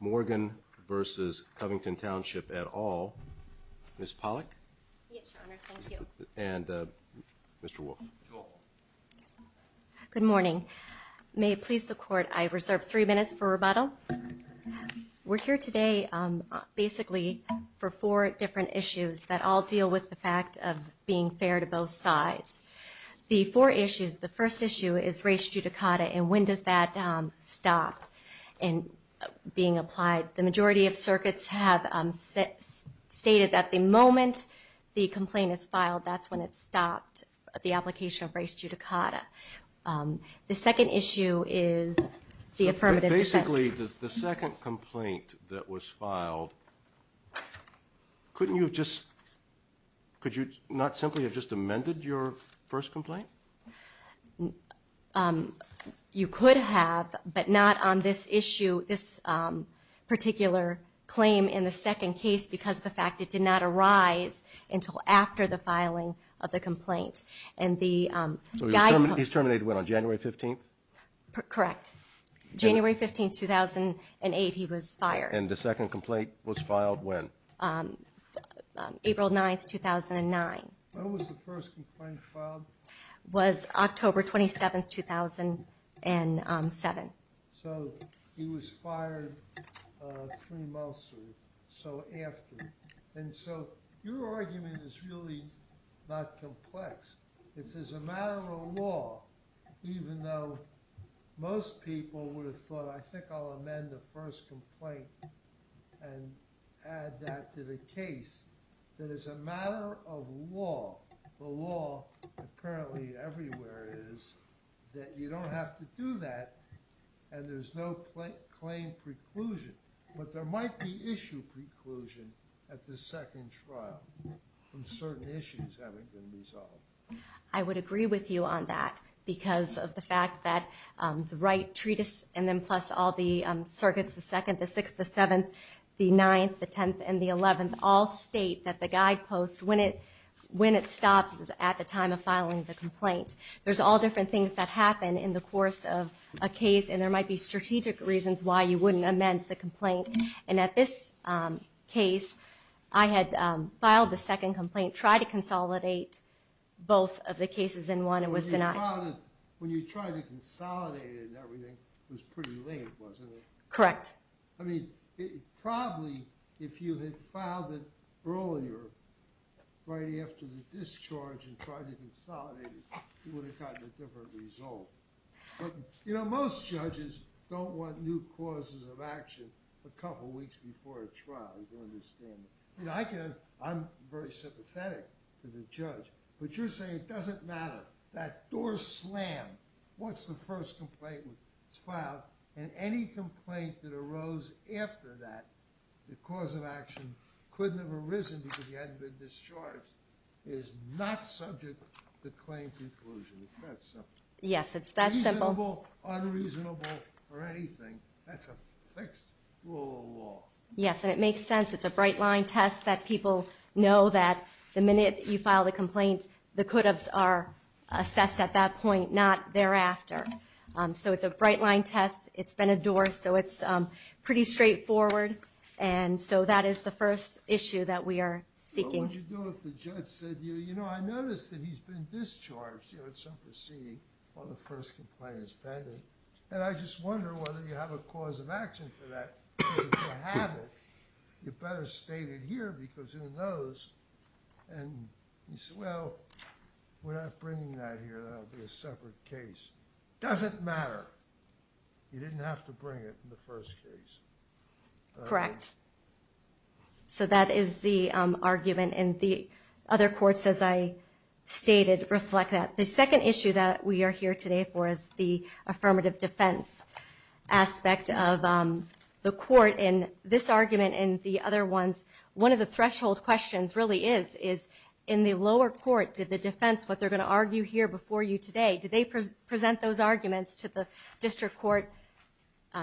Morgan v. Covington Township et al, Ms. Pollack. Yes, Your Honor. Thank you. And Mr. Wolf. Good morning. May it please the Court, I reserve three minutes for rebuttal. We're here today basically for four different issues that all deal with the fact of being fair to both sides. The four issues, the first issue is race judicata, and when does that stop being applied? The majority of circuits have stated that the moment the complaint is filed, that's when it's stopped, the application of race judicata. The second issue is the affirmative defense. Basically, the second complaint that was filed, couldn't you have just, could you not simply have just amended your first complaint? You could have, but not on this issue, this particular claim in the second case because of the fact it did not arise until after the filing of the complaint. He's terminated when, on January 15th? Correct. January 15th, 2008, he was fired. And the second complaint was filed when? April 9th, 2009. When was the first complaint filed? Was October 27th, 2007. So, he was fired three months or so after. And so, your argument is really not complex. It's as a matter of law, even though most people would have thought, I think I'll amend the first complaint and add that to the case. That as a matter of law, the law apparently everywhere is that you don't have to do that and there's no claim preclusion. But there might be issue preclusion at the second trial from certain issues having been resolved. I would agree with you on that because of the fact that the right treatise and then plus all the circuits, the second, the sixth, the seventh, the ninth, the tenth, and the eleventh, all state that the guidepost, when it stops, is at the time of filing the complaint. There's all different things that happen in the course of a case and there might be strategic reasons why you wouldn't amend the complaint. And at this case, I had filed the second complaint, tried to consolidate both of the cases in one and was denied. When you tried to consolidate it and everything, it was pretty late, wasn't it? Correct. I mean, probably if you had filed it earlier, right after the discharge and tried to consolidate it, you would have gotten a different result. You know, most judges don't want new causes of action a couple weeks before a trial. I'm very sympathetic to the judge. But you're saying it doesn't matter. That door slammed. What's the first complaint that's filed? And any complaint that arose after that, the cause of action couldn't have arisen because he hadn't been discharged, is not subject to claim preclusion. It's that simple. Yes, it's that simple. Reasonable, unreasonable, or anything, that's a fixed rule of law. Yes, and it makes sense. It's a bright-line test that people know that the minute you file the complaint, the could-haves are assessed at that point, not thereafter. So it's a bright-line test. It's been a door, so it's pretty straightforward. And so that is the first issue that we are seeking. What would you do if the judge said, you know, I noticed that he's been discharged, you know, at some proceeding, while the first complaint is pending? And I just wonder whether you have a cause of action for that, because if you haven't, you better state it here because who knows? And you say, well, we're not bringing that here. That would be a separate case. Doesn't matter. You didn't have to bring it in the first case. Correct. So that is the argument, and the other courts, as I stated, reflect that. The second issue that we are here today for is the affirmative defense aspect of the court. And this argument and the other ones, one of the threshold questions really is, is in the lower court, did the defense, what they're going to argue here before you today, did they present those arguments to the district court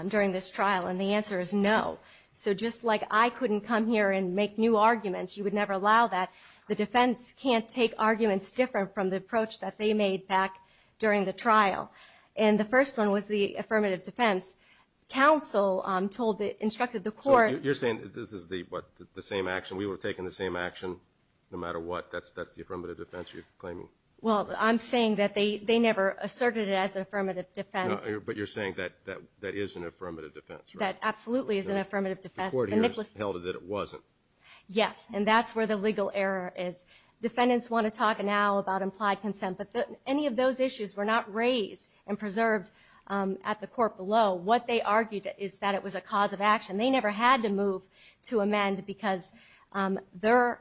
during this trial? And the answer is no. So just like I couldn't come here and make new arguments, you would never allow that, the defense can't take arguments different from the approach that they made back during the trial. And the first one was the affirmative defense. Counsel told the ‑‑ instructed the court. So you're saying this is the, what, the same action? We were taking the same action no matter what? That's the affirmative defense you're claiming? Well, I'm saying that they never asserted it as an affirmative defense. But you're saying that that is an affirmative defense, right? That absolutely is an affirmative defense. The court here has held that it wasn't. Yes, and that's where the legal error is. Defendants want to talk now about implied consent. But any of those issues were not raised and preserved at the court below. What they argued is that it was a cause of action. They never had to move to amend because in their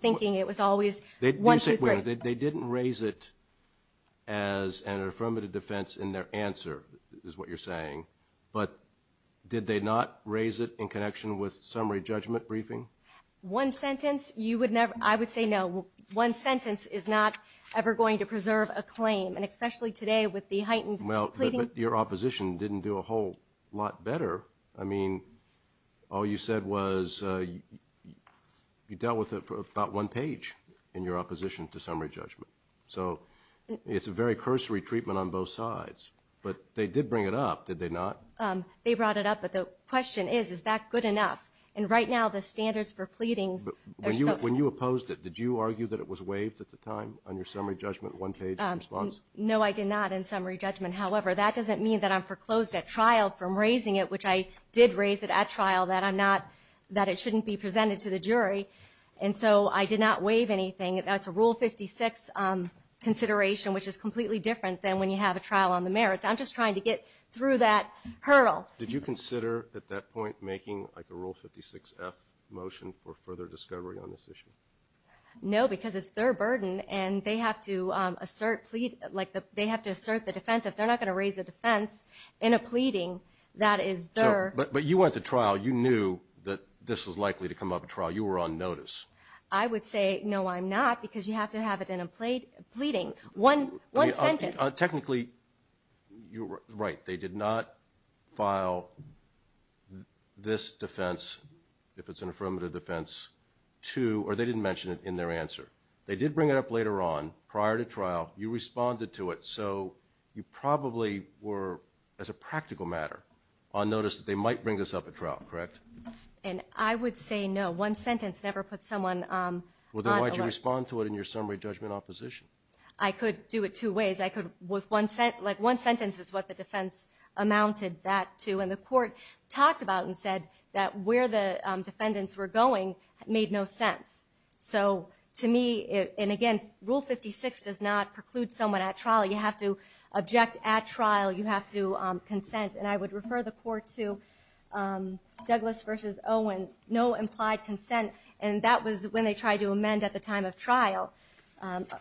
thinking it was always one, two, three. They didn't raise it as an affirmative defense in their answer is what you're saying. But did they not raise it in connection with summary judgment briefing? One sentence, you would never ‑‑ I would say no. One sentence is not ever going to preserve a claim, and especially today with the heightened pleading ‑‑ Well, but your opposition didn't do a whole lot better. I mean, all you said was you dealt with it for about one page in your opposition to summary judgment. So it's a very cursory treatment on both sides. But they did bring it up, did they not? They brought it up, but the question is, is that good enough? And right now the standards for pleadings are so ‑‑ When you opposed it, did you argue that it was waived at the time on your summary judgment one page response? No, I did not in summary judgment. However, that doesn't mean that I'm foreclosed at trial from raising it, which I did raise it at trial, that I'm not ‑‑ that it shouldn't be presented to the jury. And so I did not waive anything. That's a Rule 56 consideration, which is completely different than when you have a trial on the merits. I'm just trying to get through that hurdle. Did you consider at that point making like a Rule 56F motion for further discovery on this issue? No, because it's their burden, and they have to assert plea ‑‑ like they have to assert the defense. If they're not going to raise a defense in a pleading, that is their ‑‑ But you went to trial. You knew that this was likely to come up at trial. You were on notice. I would say, no, I'm not, because you have to have it in a pleading. One sentence. Technically, you're right. They did not file this defense, if it's an affirmative defense, to ‑‑ or they didn't mention it in their answer. They did bring it up later on, prior to trial. You responded to it, so you probably were, as a practical matter, on notice that they might bring this up at trial, correct? And I would say no. One sentence never puts someone on alert. Well, then why did you respond to it in your summary judgment opposition? I could do it two ways. I could ‑‑ like one sentence is what the defense amounted that to, and the court talked about and said that where the defendants were going made no sense. So, to me, and again, Rule 56 does not preclude someone at trial. You have to object at trial. You have to consent. And I would refer the court to Douglas v. Owen, no implied consent. And that was when they tried to amend at the time of trial,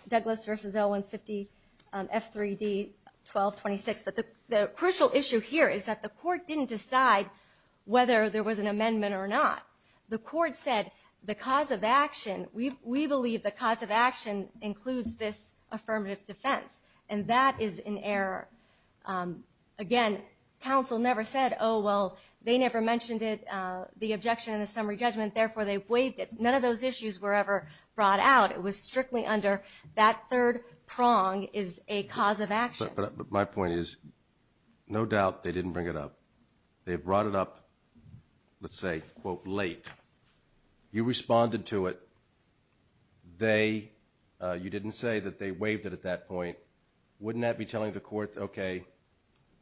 Douglas v. Owen's 50F3D1226. But the crucial issue here is that the court didn't decide whether there was an amendment or not. The court said the cause of action, we believe the cause of action includes this affirmative defense. And that is in error. Again, counsel never said, oh, well, they never mentioned it, the objection in the summary judgment, therefore they waived it. None of those issues were ever brought out. It was strictly under that third prong is a cause of action. But my point is, no doubt they didn't bring it up. They brought it up, let's say, quote, late. You responded to it. You didn't say that they waived it at that point. Wouldn't that be telling the court, okay,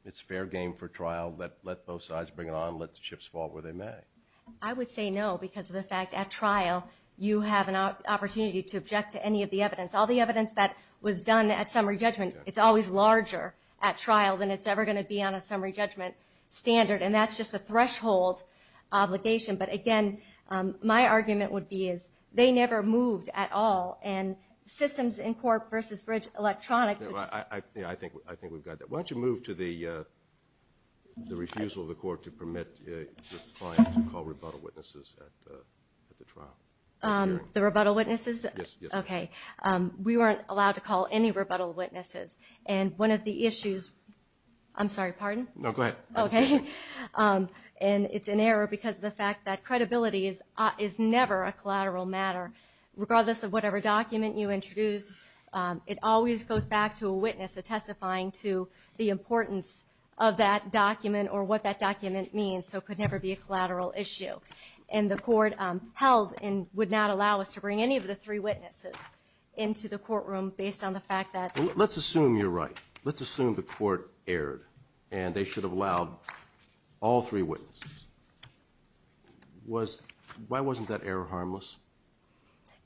it's fair game for trial, let both sides bring it on, let the chips fall where they may? I would say no because of the fact at trial you have an opportunity to object to any of the evidence. All the evidence that was done at summary judgment, it's always larger at trial than it's ever going to be on a summary judgment standard, and that's just a threshold obligation. But, again, my argument would be is they never moved at all, and systems in court versus electronics. I think we've got that. Why don't you move to the refusal of the court to permit the client to call rebuttal witnesses at the trial? The rebuttal witnesses? Yes. Okay. We weren't allowed to call any rebuttal witnesses. And one of the issues, I'm sorry, pardon? No, go ahead. Okay. And it's an error because of the fact that credibility is never a collateral matter, regardless of whatever document you introduce. It always goes back to a witness testifying to the importance of that document or what that document means, so it could never be a collateral issue. And the court held and would not allow us to bring any of the three witnesses into the courtroom based on the fact that Let's assume you're right. Let's assume the court erred, and they should have allowed all three witnesses. Why wasn't that error harmless?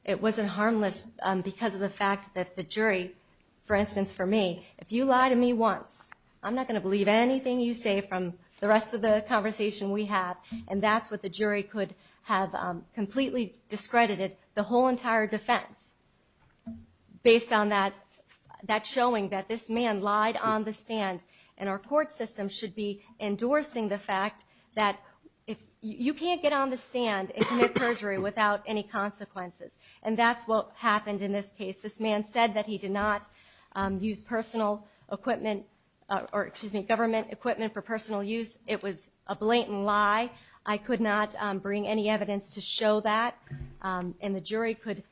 It wasn't harmless because of the fact that the jury, for instance, for me, if you lie to me once, I'm not going to believe anything you say from the rest of the conversation we have, and that's what the jury could have completely discredited the whole entire defense, based on that showing that this man lied on the stand, and our court system should be endorsing the fact that you can't get on the stand and commit perjury without any consequences. And that's what happened in this case. This man said that he did not use personal equipment or, excuse me, government equipment for personal use. It was a blatant lie. I could not bring any evidence to show that, and the jury could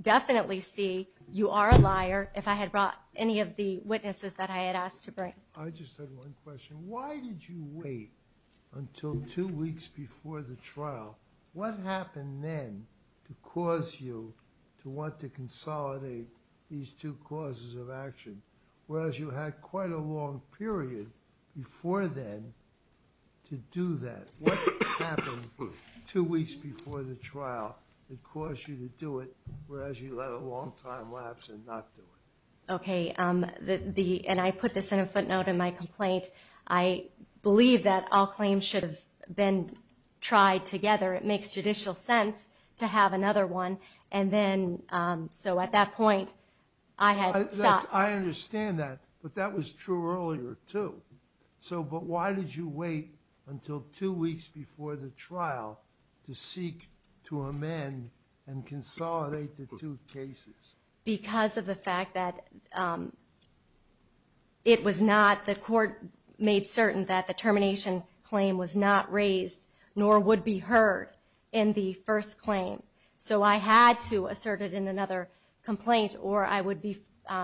definitely see you are a liar if I had brought any of the witnesses that I had asked to bring. I just had one question. Why did you wait until two weeks before the trial? What happened then to cause you to want to consolidate these two causes of action, whereas you had quite a long period before then to do that? What happened two weeks before the trial that caused you to do it, whereas you let a long time lapse and not do it? Okay, and I put this in a footnote in my complaint. I believe that all claims should have been tried together. It makes judicial sense to have another one, and then, so at that point, I had sought. I understand that, but that was true earlier, too. So, but why did you wait until two weeks before the trial to seek to amend and consolidate the two cases? Because of the fact that it was not, the court made certain that the termination claim was not raised, nor would be heard in the first claim. So I had to assert it in another complaint, or I would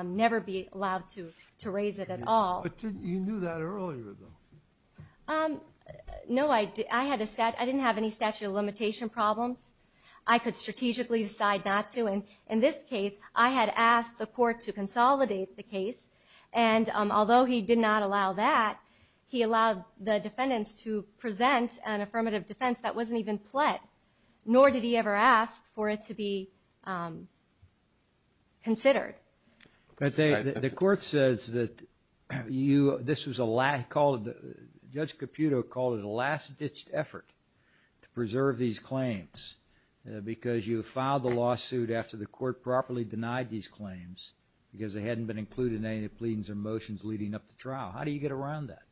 never be allowed to raise it at all. But you knew that earlier, though. No, I didn't have any statute of limitation problems. I could strategically decide not to, and in this case, I had asked the court to consolidate the case, and although he did not allow that, he allowed the defendants to present an affirmative defense that wasn't even pled. Nor did he ever ask for it to be considered. But the court says that you, this was a, Judge Caputo called it a last-ditched effort to preserve these claims because you filed the lawsuit after the court properly denied these claims because they hadn't been included in any of the pleadings or motions leading up to trial. How do you get around that?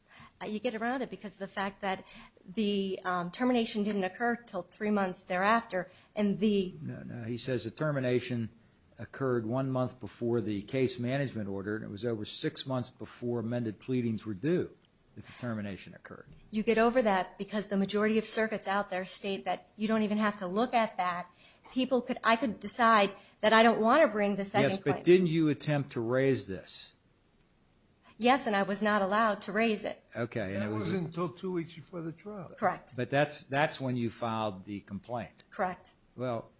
You get around it because of the fact that the termination didn't occur until three months thereafter, and the... No, no, he says the termination occurred one month before the case management order, and it was over six months before amended pleadings were due that the termination occurred. You get over that because the majority of circuits out there state that you don't even have to look at that. People could, I could decide that I don't want to bring the second claim. Yes, but didn't you attempt to raise this? Yes, and I was not allowed to raise it. Okay. That wasn't until two weeks before the trial. Correct. But that's when you filed the complaint. Correct. Well,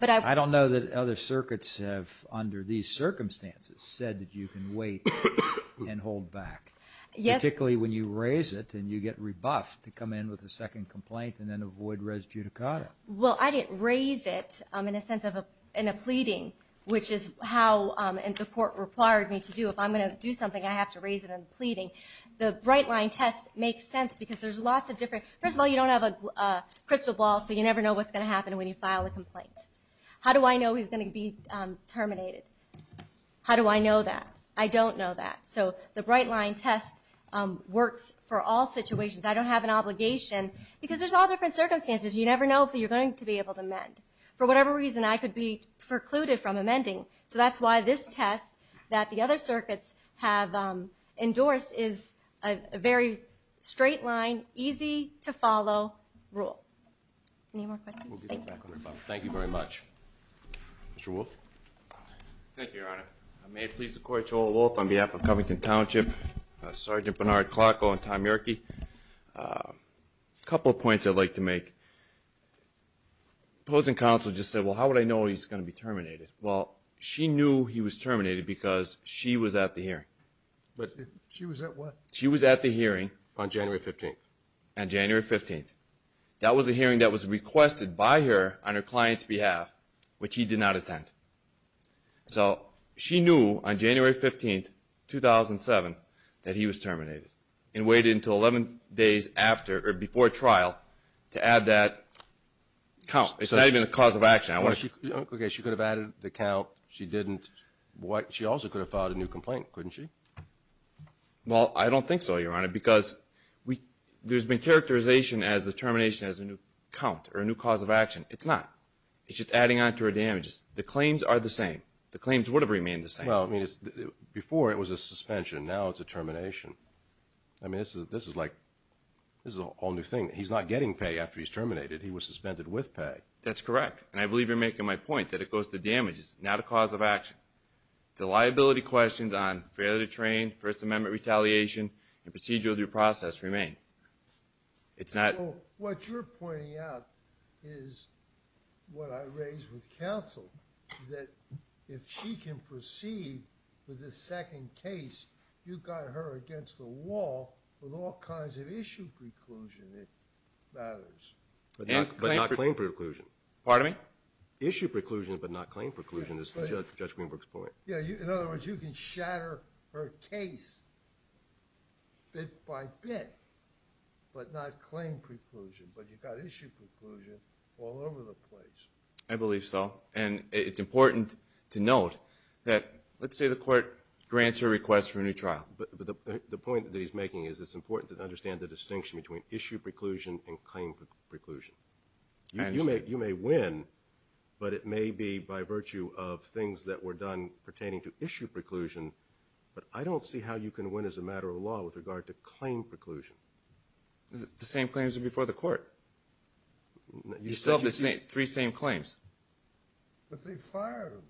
I don't know that other circuits have, under these circumstances, said that you can wait and hold back. Yes. Particularly when you raise it and you get rebuffed to come in with a second complaint and then avoid res judicata. Well, I didn't raise it in a sense of a pleading, which is how the court required me to do. If I'm going to do something, I have to raise it in a pleading. The Brightline test makes sense because there's lots of different... First of all, you don't have a crystal ball, so you never know what's going to happen when you file a complaint. How do I know he's going to be terminated? How do I know that? I don't know that. So the Brightline test works for all situations. I don't have an obligation because there's all different circumstances. You never know if you're going to be able to amend. For whatever reason, I could be precluded from amending. So that's why this test that the other circuits have endorsed is a very straight line, easy-to-follow rule. Any more questions? Thank you. Thank you very much. Mr. Wolfe. Thank you, Your Honor. May it please the Court, Joel Wolfe on behalf of Covington Township, Sergeant Bernard Clarko and Tom Yerke. A couple of points I'd like to make. The opposing counsel just said, well, how would I know he's going to be terminated? Well, she knew he was terminated because she was at the hearing. She was at what? She was at the hearing on January 15th. On January 15th. That was a hearing that was requested by her on her client's behalf, which he did not attend. So she knew on January 15th, 2007, that he was terminated and waited until 11 days after or before trial to add that count. It's not even a cause of action. Okay, she could have added the count. She didn't. She also could have filed a new complaint, couldn't she? Well, I don't think so, Your Honor, because there's been characterization as the termination as a new count or a new cause of action. It's not. It's just adding on to her damages. The claims are the same. The claims would have remained the same. Well, I mean, before it was a suspension. Now it's a termination. I mean, this is like a whole new thing. He's not getting pay after he's terminated. He was suspended with pay. That's correct, and I believe you're making my point that it goes to damages, not a cause of action. The liability questions on failure to train, First Amendment retaliation, and procedural due process remain. It's not. What you're pointing out is what I raised with counsel, that if she can proceed with the second case, you've got her against the wall with all kinds of issue preclusion that matters. But not claim preclusion. Pardon me? Issue preclusion but not claim preclusion is Judge Greenberg's point. In other words, you can shatter her case bit by bit, but not claim preclusion. But you've got issue preclusion all over the place. I believe so, and it's important to note that let's say the court grants her request for a new trial. But the point that he's making is it's important to understand the distinction between issue preclusion and claim preclusion. You may win, but it may be by virtue of things that were done pertaining to issue preclusion. But I don't see how you can win as a matter of law with regard to claim preclusion. The same claims are before the court. You still have three same claims. But they've fired them.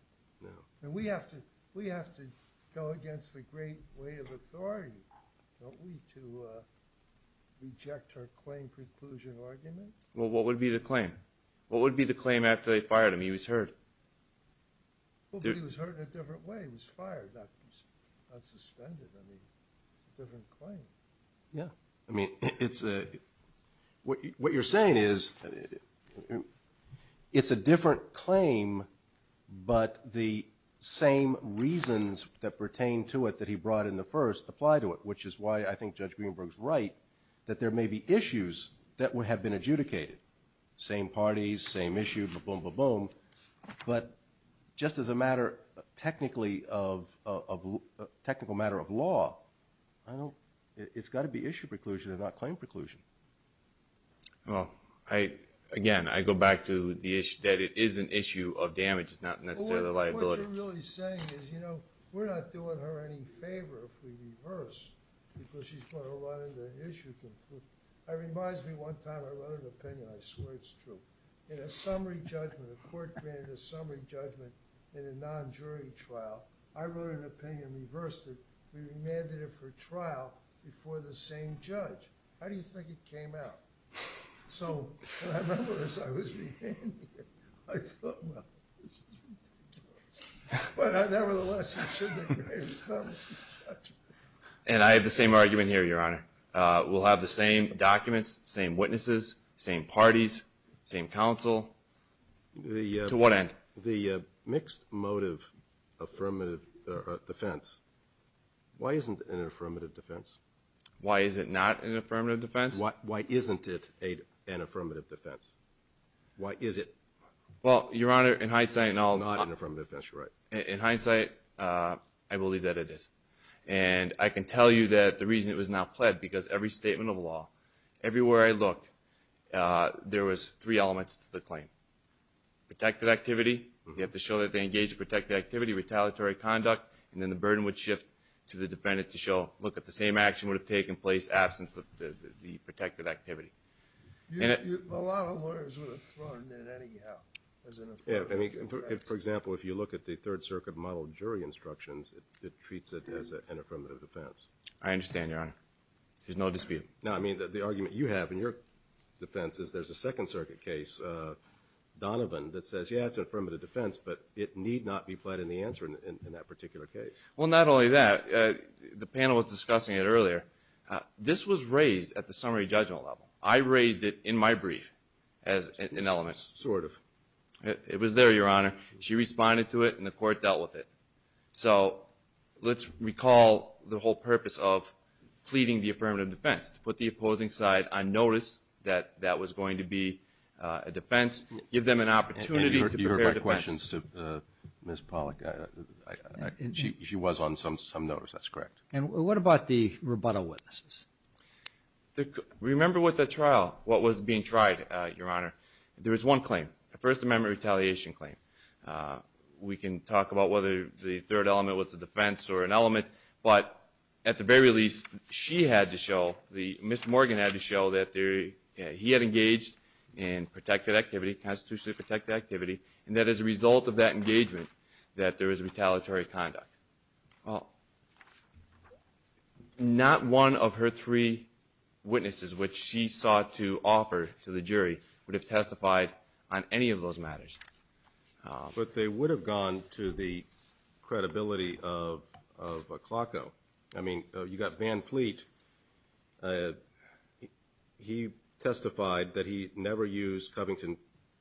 No. And we have to go against the great weight of authority, don't we, to reject her claim preclusion argument? Well, what would be the claim? What would be the claim after they fired him? He was heard. Well, but he was heard in a different way. He was fired, not suspended. I mean, it's a different claim. Yeah. I mean, what you're saying is it's a different claim, but the same reasons that pertain to it that he brought in the first apply to it, which is why I think Judge Greenberg's right that there may be issues that have been adjudicated. Same parties, same issue, ba-boom, ba-boom. But just as a matter technically of a technical matter of law, it's got to be issue preclusion and not claim preclusion. Well, again, I go back to the issue that it is an issue of damage. It's not necessarily a liability. What you're really saying is, you know, we're not doing her any favor if we reverse because she's going to run into an issue. It reminds me one time I wrote an opinion. I swear it's true. In a summary judgment, a court granted a summary judgment in a non-jury trial, I wrote an opinion and reversed it. We remanded it for trial before the same judge. How do you think it came out? So when I remember this, I was remanding it. I thought, well, this is ridiculous. But nevertheless, it should have been a summary judgment. And I have the same argument here, Your Honor. We'll have the same documents, same witnesses, same parties, same counsel. To what end? The mixed motive affirmative defense. Why isn't it an affirmative defense? Why is it not an affirmative defense? Why isn't it an affirmative defense? Why is it not an affirmative defense? In hindsight, I believe that it is. And I can tell you that the reason it was not pled because every statement of law, everywhere I looked, there was three elements to the claim. Protective activity, you have to show that they engaged in protective activity, retaliatory conduct, and then the burden would shift to the defendant to show, look at the same action would have taken place absence of the protective activity. A lot of lawyers would have thrown it at anyhow as an affirmative defense. For example, if you look at the Third Circuit model jury instructions, it treats it as an affirmative defense. I understand, Your Honor. There's no dispute. No, I mean, the argument you have in your defense is there's a Second Circuit case, Donovan, that says, but it need not be pled in the answer in that particular case. Well, not only that, the panel was discussing it earlier. This was raised at the summary judgment level. I raised it in my brief as an element. Sort of. It was there, Your Honor. She responded to it, and the court dealt with it. So let's recall the whole purpose of pleading the affirmative defense, to put the opposing side on notice that that was going to be a defense, give them an opportunity to prepare a defense. And you heard my questions to Ms. Pollack. She was on some notice. That's correct. And what about the rebuttal witnesses? Remember what the trial, what was being tried, Your Honor. There was one claim, a First Amendment retaliation claim. We can talk about whether the third element was a defense or an element, but at the very least, she had to show, Mr. Morgan had to show that he had engaged in protected activity, constitutionally protected activity, and that as a result of that engagement, that there was retaliatory conduct. Well, not one of her three witnesses, which she sought to offer to the jury, would have testified on any of those matters. But they would have gone to the credibility of Klocko. I mean, you've got Van Fleet. He testified that he never used Covington,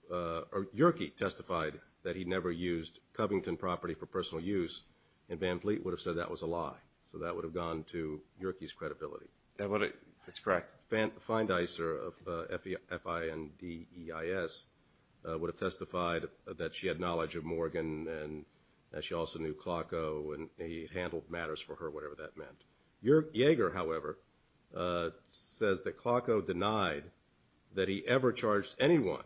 or Yerke testified that he never used Covington property for personal use, and Van Fleet would have said that was a lie. So that would have gone to Yerke's credibility. That's correct. Feindeiser, F-I-N-D-E-I-S, would have testified that she had knowledge of Morgan and that she also knew Klocko and he handled matters for her, whatever that meant. Yerke Jaeger, however, says that Klocko denied that he ever charged anyone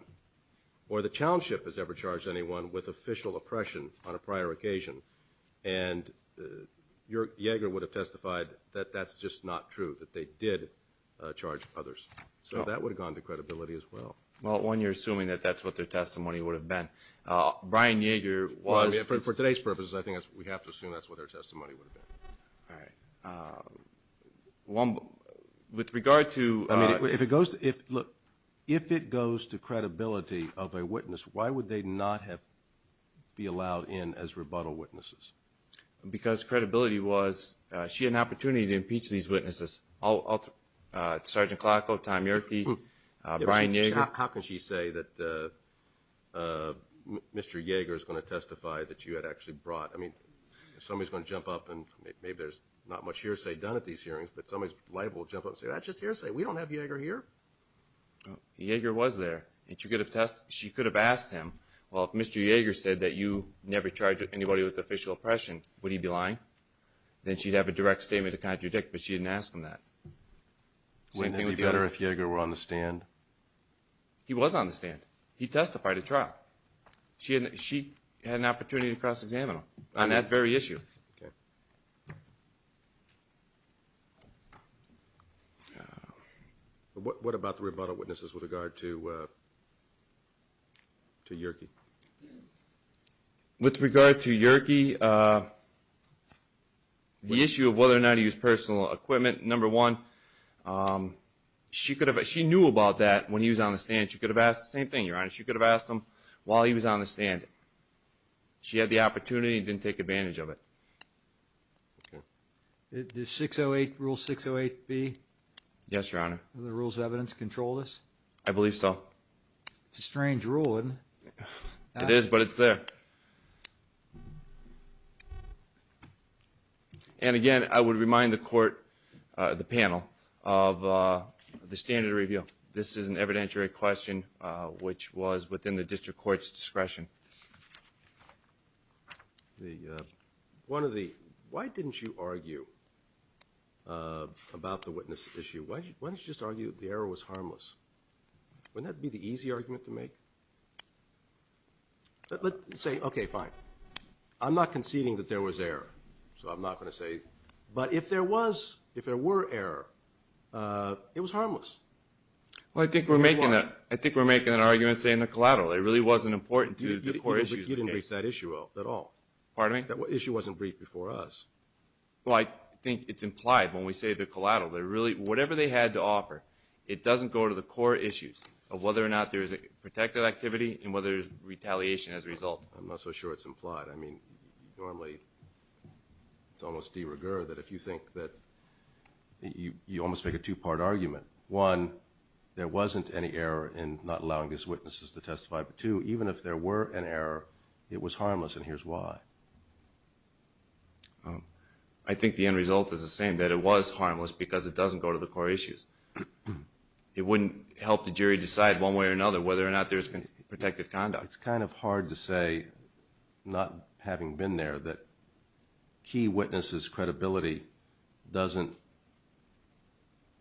or that Chownship has ever charged anyone with official oppression on a prior occasion. And Yerke Jaeger would have testified that that's just not true, that they did charge others. So that would have gone to credibility as well. Well, one, you're assuming that that's what their testimony would have been. Brian Jaeger was. For today's purposes, I think we have to assume that's what their testimony would have been. All right. With regard to... Because credibility was she had an opportunity to impeach these witnesses. Sergeant Klocko, Tom Yerke, Brian Jaeger. How can she say that Mr. Jaeger is going to testify that you had actually brought... I mean, somebody's going to jump up and maybe there's not much hearsay done at these hearings, but somebody's liable to jump up and say, that's just hearsay. We don't have Jaeger here. Jaeger was there. She could have asked him, well, if Mr. Jaeger said that you never charged anybody with official oppression, would he be lying? Then she'd have a direct statement to contradict, but she didn't ask him that. Wouldn't it be better if Jaeger were on the stand? He was on the stand. He testified at trial. She had an opportunity to cross-examine him on that very issue. What about the rebuttal witnesses with regard to Yerke? With regard to Yerke, the issue of whether or not he was personal equipment, number one, she knew about that when he was on the stand. She could have asked the same thing, Your Honor. She could have asked him while he was on the stand. She had the opportunity and didn't take advantage of it. Does 608, Rule 608B... Yes, Your Honor. Are the rules of evidence control this? I believe so. It's a strange rule, isn't it? It is, but it's there. And again, I would remind the court, the panel, of the standard of review. This is an evidentiary question which was within the district court's discretion. Why didn't you argue about the witness issue? Why didn't you just argue the error was harmless? Wouldn't that be the easy argument to make? Let's say, okay, fine. I'm not conceding that there was error, so I'm not going to say... But if there was, if there were error, it was harmless. Well, I think we're making an argument, say, in the collateral. It really wasn't important to the court issues. You didn't raise that issue at all. Pardon me? That issue wasn't briefed before us. Well, I think it's implied when we say the collateral. But really, whatever they had to offer, it doesn't go to the court issues of whether or not there is a protective activity and whether there's retaliation as a result. I'm not so sure it's implied. I mean, normally it's almost de rigueur that if you think that... You almost make a two-part argument. One, there wasn't any error in not allowing these witnesses to testify. Two, even if there were an error, it was harmless, and here's why. I think the end result is the same, that it was harmless because it doesn't go to the court issues. It wouldn't help the jury decide one way or another whether or not there's protective conduct. It's kind of hard to say, not having been there, that key witnesses' credibility doesn't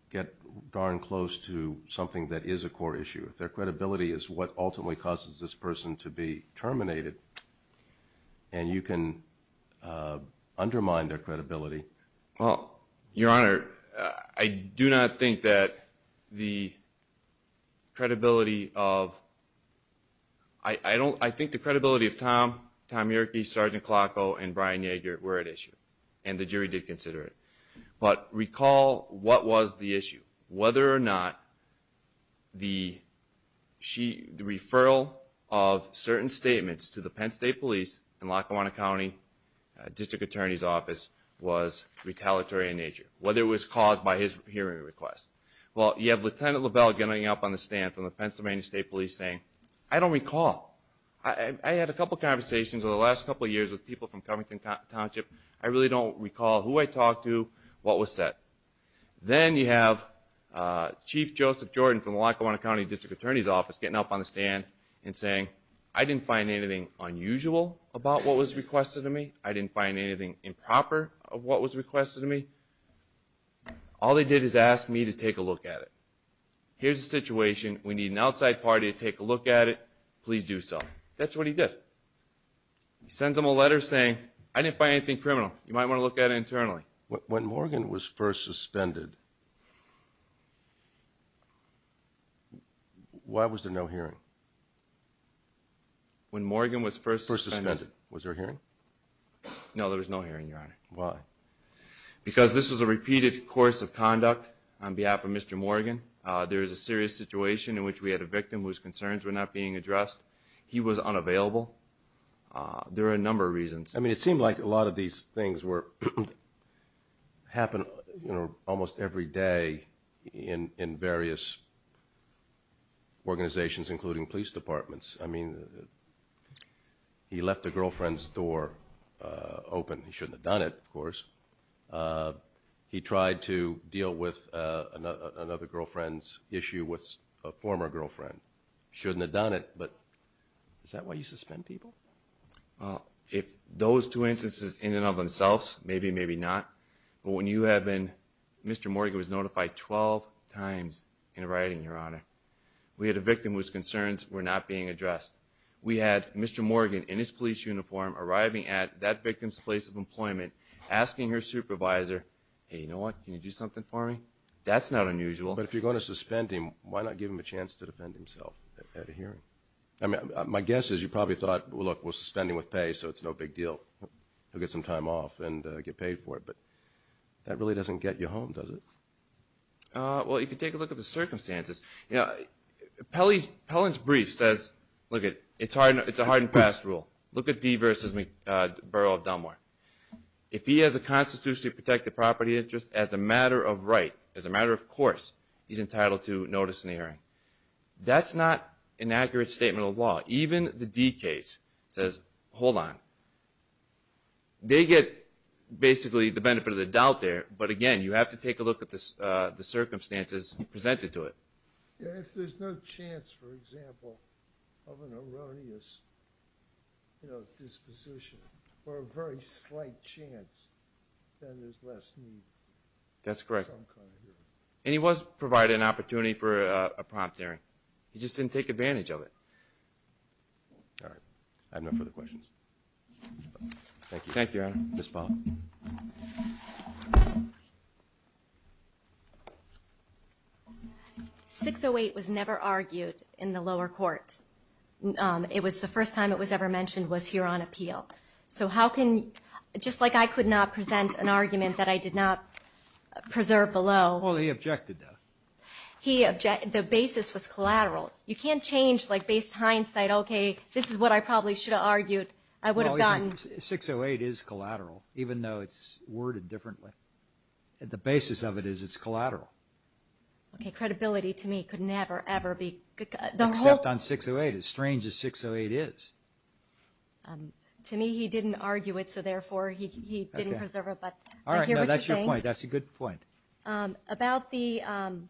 get darn close to something that is a court issue. If their credibility is what ultimately causes this person to be terminated and you can undermine their credibility... Well, Your Honor, I do not think that the credibility of... I think the credibility of Tom Yerke, Sergeant Klocko, and Brian Yager were at issue, and the jury did consider it. But recall what was the issue, whether or not the referral of certain statements to the Penn State Police and Lackawanna County District Attorney's Office was retaliatory in nature, whether it was caused by his hearing request. Well, you have Lieutenant LeBel getting up on the stand from the Pennsylvania State Police saying, I don't recall. I had a couple conversations over the last couple years with people from Covington Township. I really don't recall who I talked to, what was said. Then you have Chief Joseph Jordan from the Lackawanna County District Attorney's Office getting up on the stand and saying, I didn't find anything unusual about what was requested of me. I didn't find anything improper of what was requested of me. All they did is ask me to take a look at it. Here's the situation. We need an outside party to take a look at it. Please do so. That's what he did. He sends them a letter saying, I didn't find anything criminal. You might want to look at it internally. When Morgan was first suspended, why was there no hearing? When Morgan was first suspended. Was there a hearing? No, there was no hearing, Your Honor. Why? Because this was a repeated course of conduct on behalf of Mr. Morgan. There was a serious situation in which we had a victim whose concerns were not being addressed. He was unavailable. There are a number of reasons. I mean, it seemed like a lot of these things happen almost every day in various organizations, including police departments. I mean, he left a girlfriend's door open. He shouldn't have done it, of course. He tried to deal with another girlfriend's issue with a former girlfriend. Shouldn't have done it, but is that why you suspend people? Well, if those two instances in and of themselves, maybe, maybe not. But when you have been, Mr. Morgan was notified 12 times in writing, Your Honor. We had a victim whose concerns were not being addressed. We had Mr. Morgan in his police uniform arriving at that victim's place of employment, asking her supervisor, hey, you know what, can you do something for me? That's not unusual. But if you're going to suspend him, why not give him a chance to defend himself at a hearing? I mean, my guess is you probably thought, well, look, we're suspending with pay, so it's no big deal. He'll get some time off and get paid for it. But that really doesn't get you home, does it? Well, if you take a look at the circumstances, you know, Pellon's brief says, look, it's a hardened past rule. Look at Dee versus the Borough of Delmar. If he has a constitutionally protected property interest, as a matter of right, as a matter of course, he's entitled to notice in the hearing. That's not an accurate statement of law. Even the Dee case says, hold on. They get basically the benefit of the doubt there. But again, you have to take a look at the circumstances presented to it. If there's no chance, for example, of an erroneous disposition or a very slight chance, then there's less need. That's correct. And he was provided an opportunity for a prompt hearing. He just didn't take advantage of it. All right. I have no further questions. Thank you. Thank you, Your Honor. Ms. Pollack. 608 was never argued in the lower court. It was the first time it was ever mentioned was here on appeal. Just like I could not present an argument that I did not preserve below. Well, he objected to it. The basis was collateral. You can't change based hindsight, okay, this is what I probably should have argued, I would have gotten. 608 is collateral, even though it's worded differently. The basis of it is it's collateral. Okay, credibility to me could never, ever be. Except on 608. As strange as 608 is. To me, he didn't argue it, so therefore he didn't preserve it, but I hear what you're saying. All right, no, that's your point. That's a good point. About the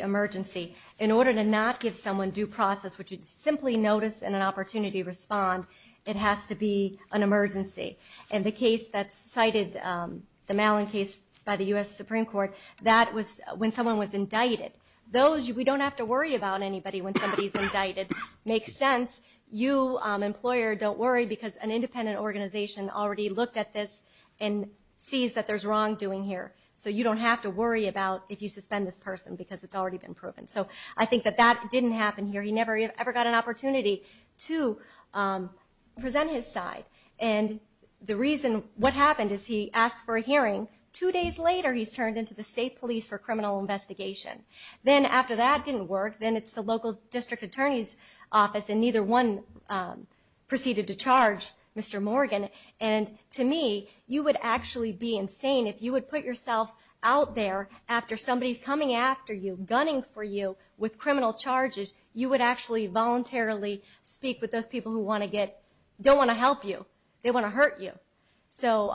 emergency, in order to not give someone due process, which is simply notice and an opportunity to respond, it has to be an emergency. And the case that's cited, the Malin case by the U.S. Supreme Court, that was when someone was indicted. We don't have to worry about anybody when somebody's indicted. Makes sense. You, employer, don't worry because an independent organization already looked at this and sees that there's wrongdoing here. So you don't have to worry about if you suspend this person because it's already been proven. So I think that that didn't happen here. He never ever got an opportunity to present his side. And the reason what happened is he asked for a hearing. Two days later, he's turned into the state police for criminal investigation. Then after that, it didn't work. Then it's the local district attorney's office, and neither one proceeded to charge Mr. Morgan. And to me, you would actually be insane if you would put yourself out there after somebody's coming after you, gunning for you with criminal charges. You would actually voluntarily speak with those people who don't want to help you. They want to hurt you. So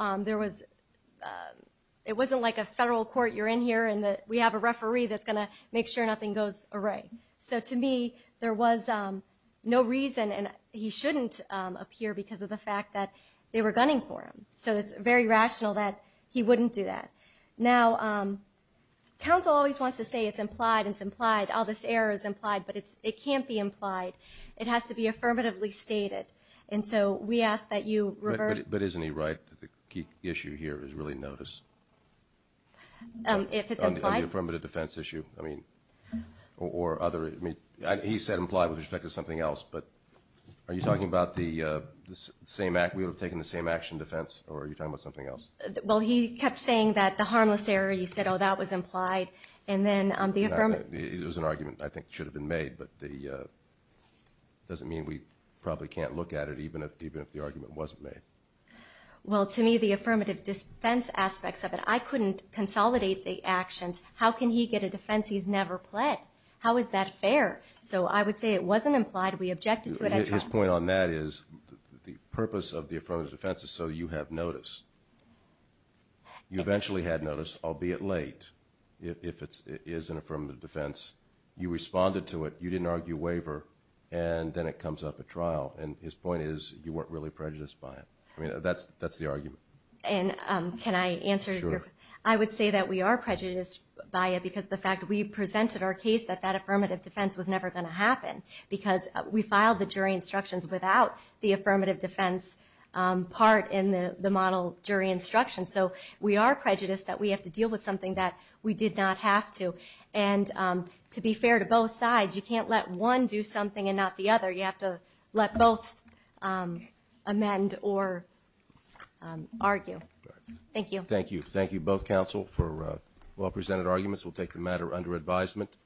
it wasn't like a federal court. You're in here, and we have a referee that's going to make sure nothing goes awry. So to me, there was no reason, and he shouldn't appear because of the fact that they were gunning for him. So it's very rational that he wouldn't do that. Now, counsel always wants to say it's implied, it's implied, all this error is implied. But it can't be implied. It has to be affirmatively stated. And so we ask that you reverse. But isn't he right that the key issue here is really notice? If it's implied? Of the affirmative defense issue, I mean, or other. I mean, he said implied with respect to something else, but are you talking about the same act? We would have taken the same action defense, or are you talking about something else? Well, he kept saying that the harmless error, you said, oh, that was implied. And then the affirmative. It was an argument I think should have been made, but it doesn't mean we probably can't look at it even if the argument wasn't made. Well, to me, the affirmative defense aspects of it, I couldn't consolidate the actions. How can he get a defense he's never pled? How is that fair? So I would say it wasn't implied. We objected to it. His point on that is the purpose of the affirmative defense is so you have notice. You eventually had notice, albeit late, if it is an affirmative defense. You responded to it. You didn't argue waiver. And then it comes up at trial. And his point is you weren't really prejudiced by it. I mean, that's the argument. And can I answer your question? Sure. I would say that we are prejudiced by it because the fact that we presented our case that that affirmative defense was never going to happen because we filed the jury instructions without the affirmative defense part in the model jury instructions. So we are prejudiced that we have to deal with something that we did not have to. And to be fair to both sides, you can't let one do something and not the other. You have to let both amend or argue. Thank you. Thank you. Thank you, both counsel, for well-presented arguments. We'll take the matter under advisement.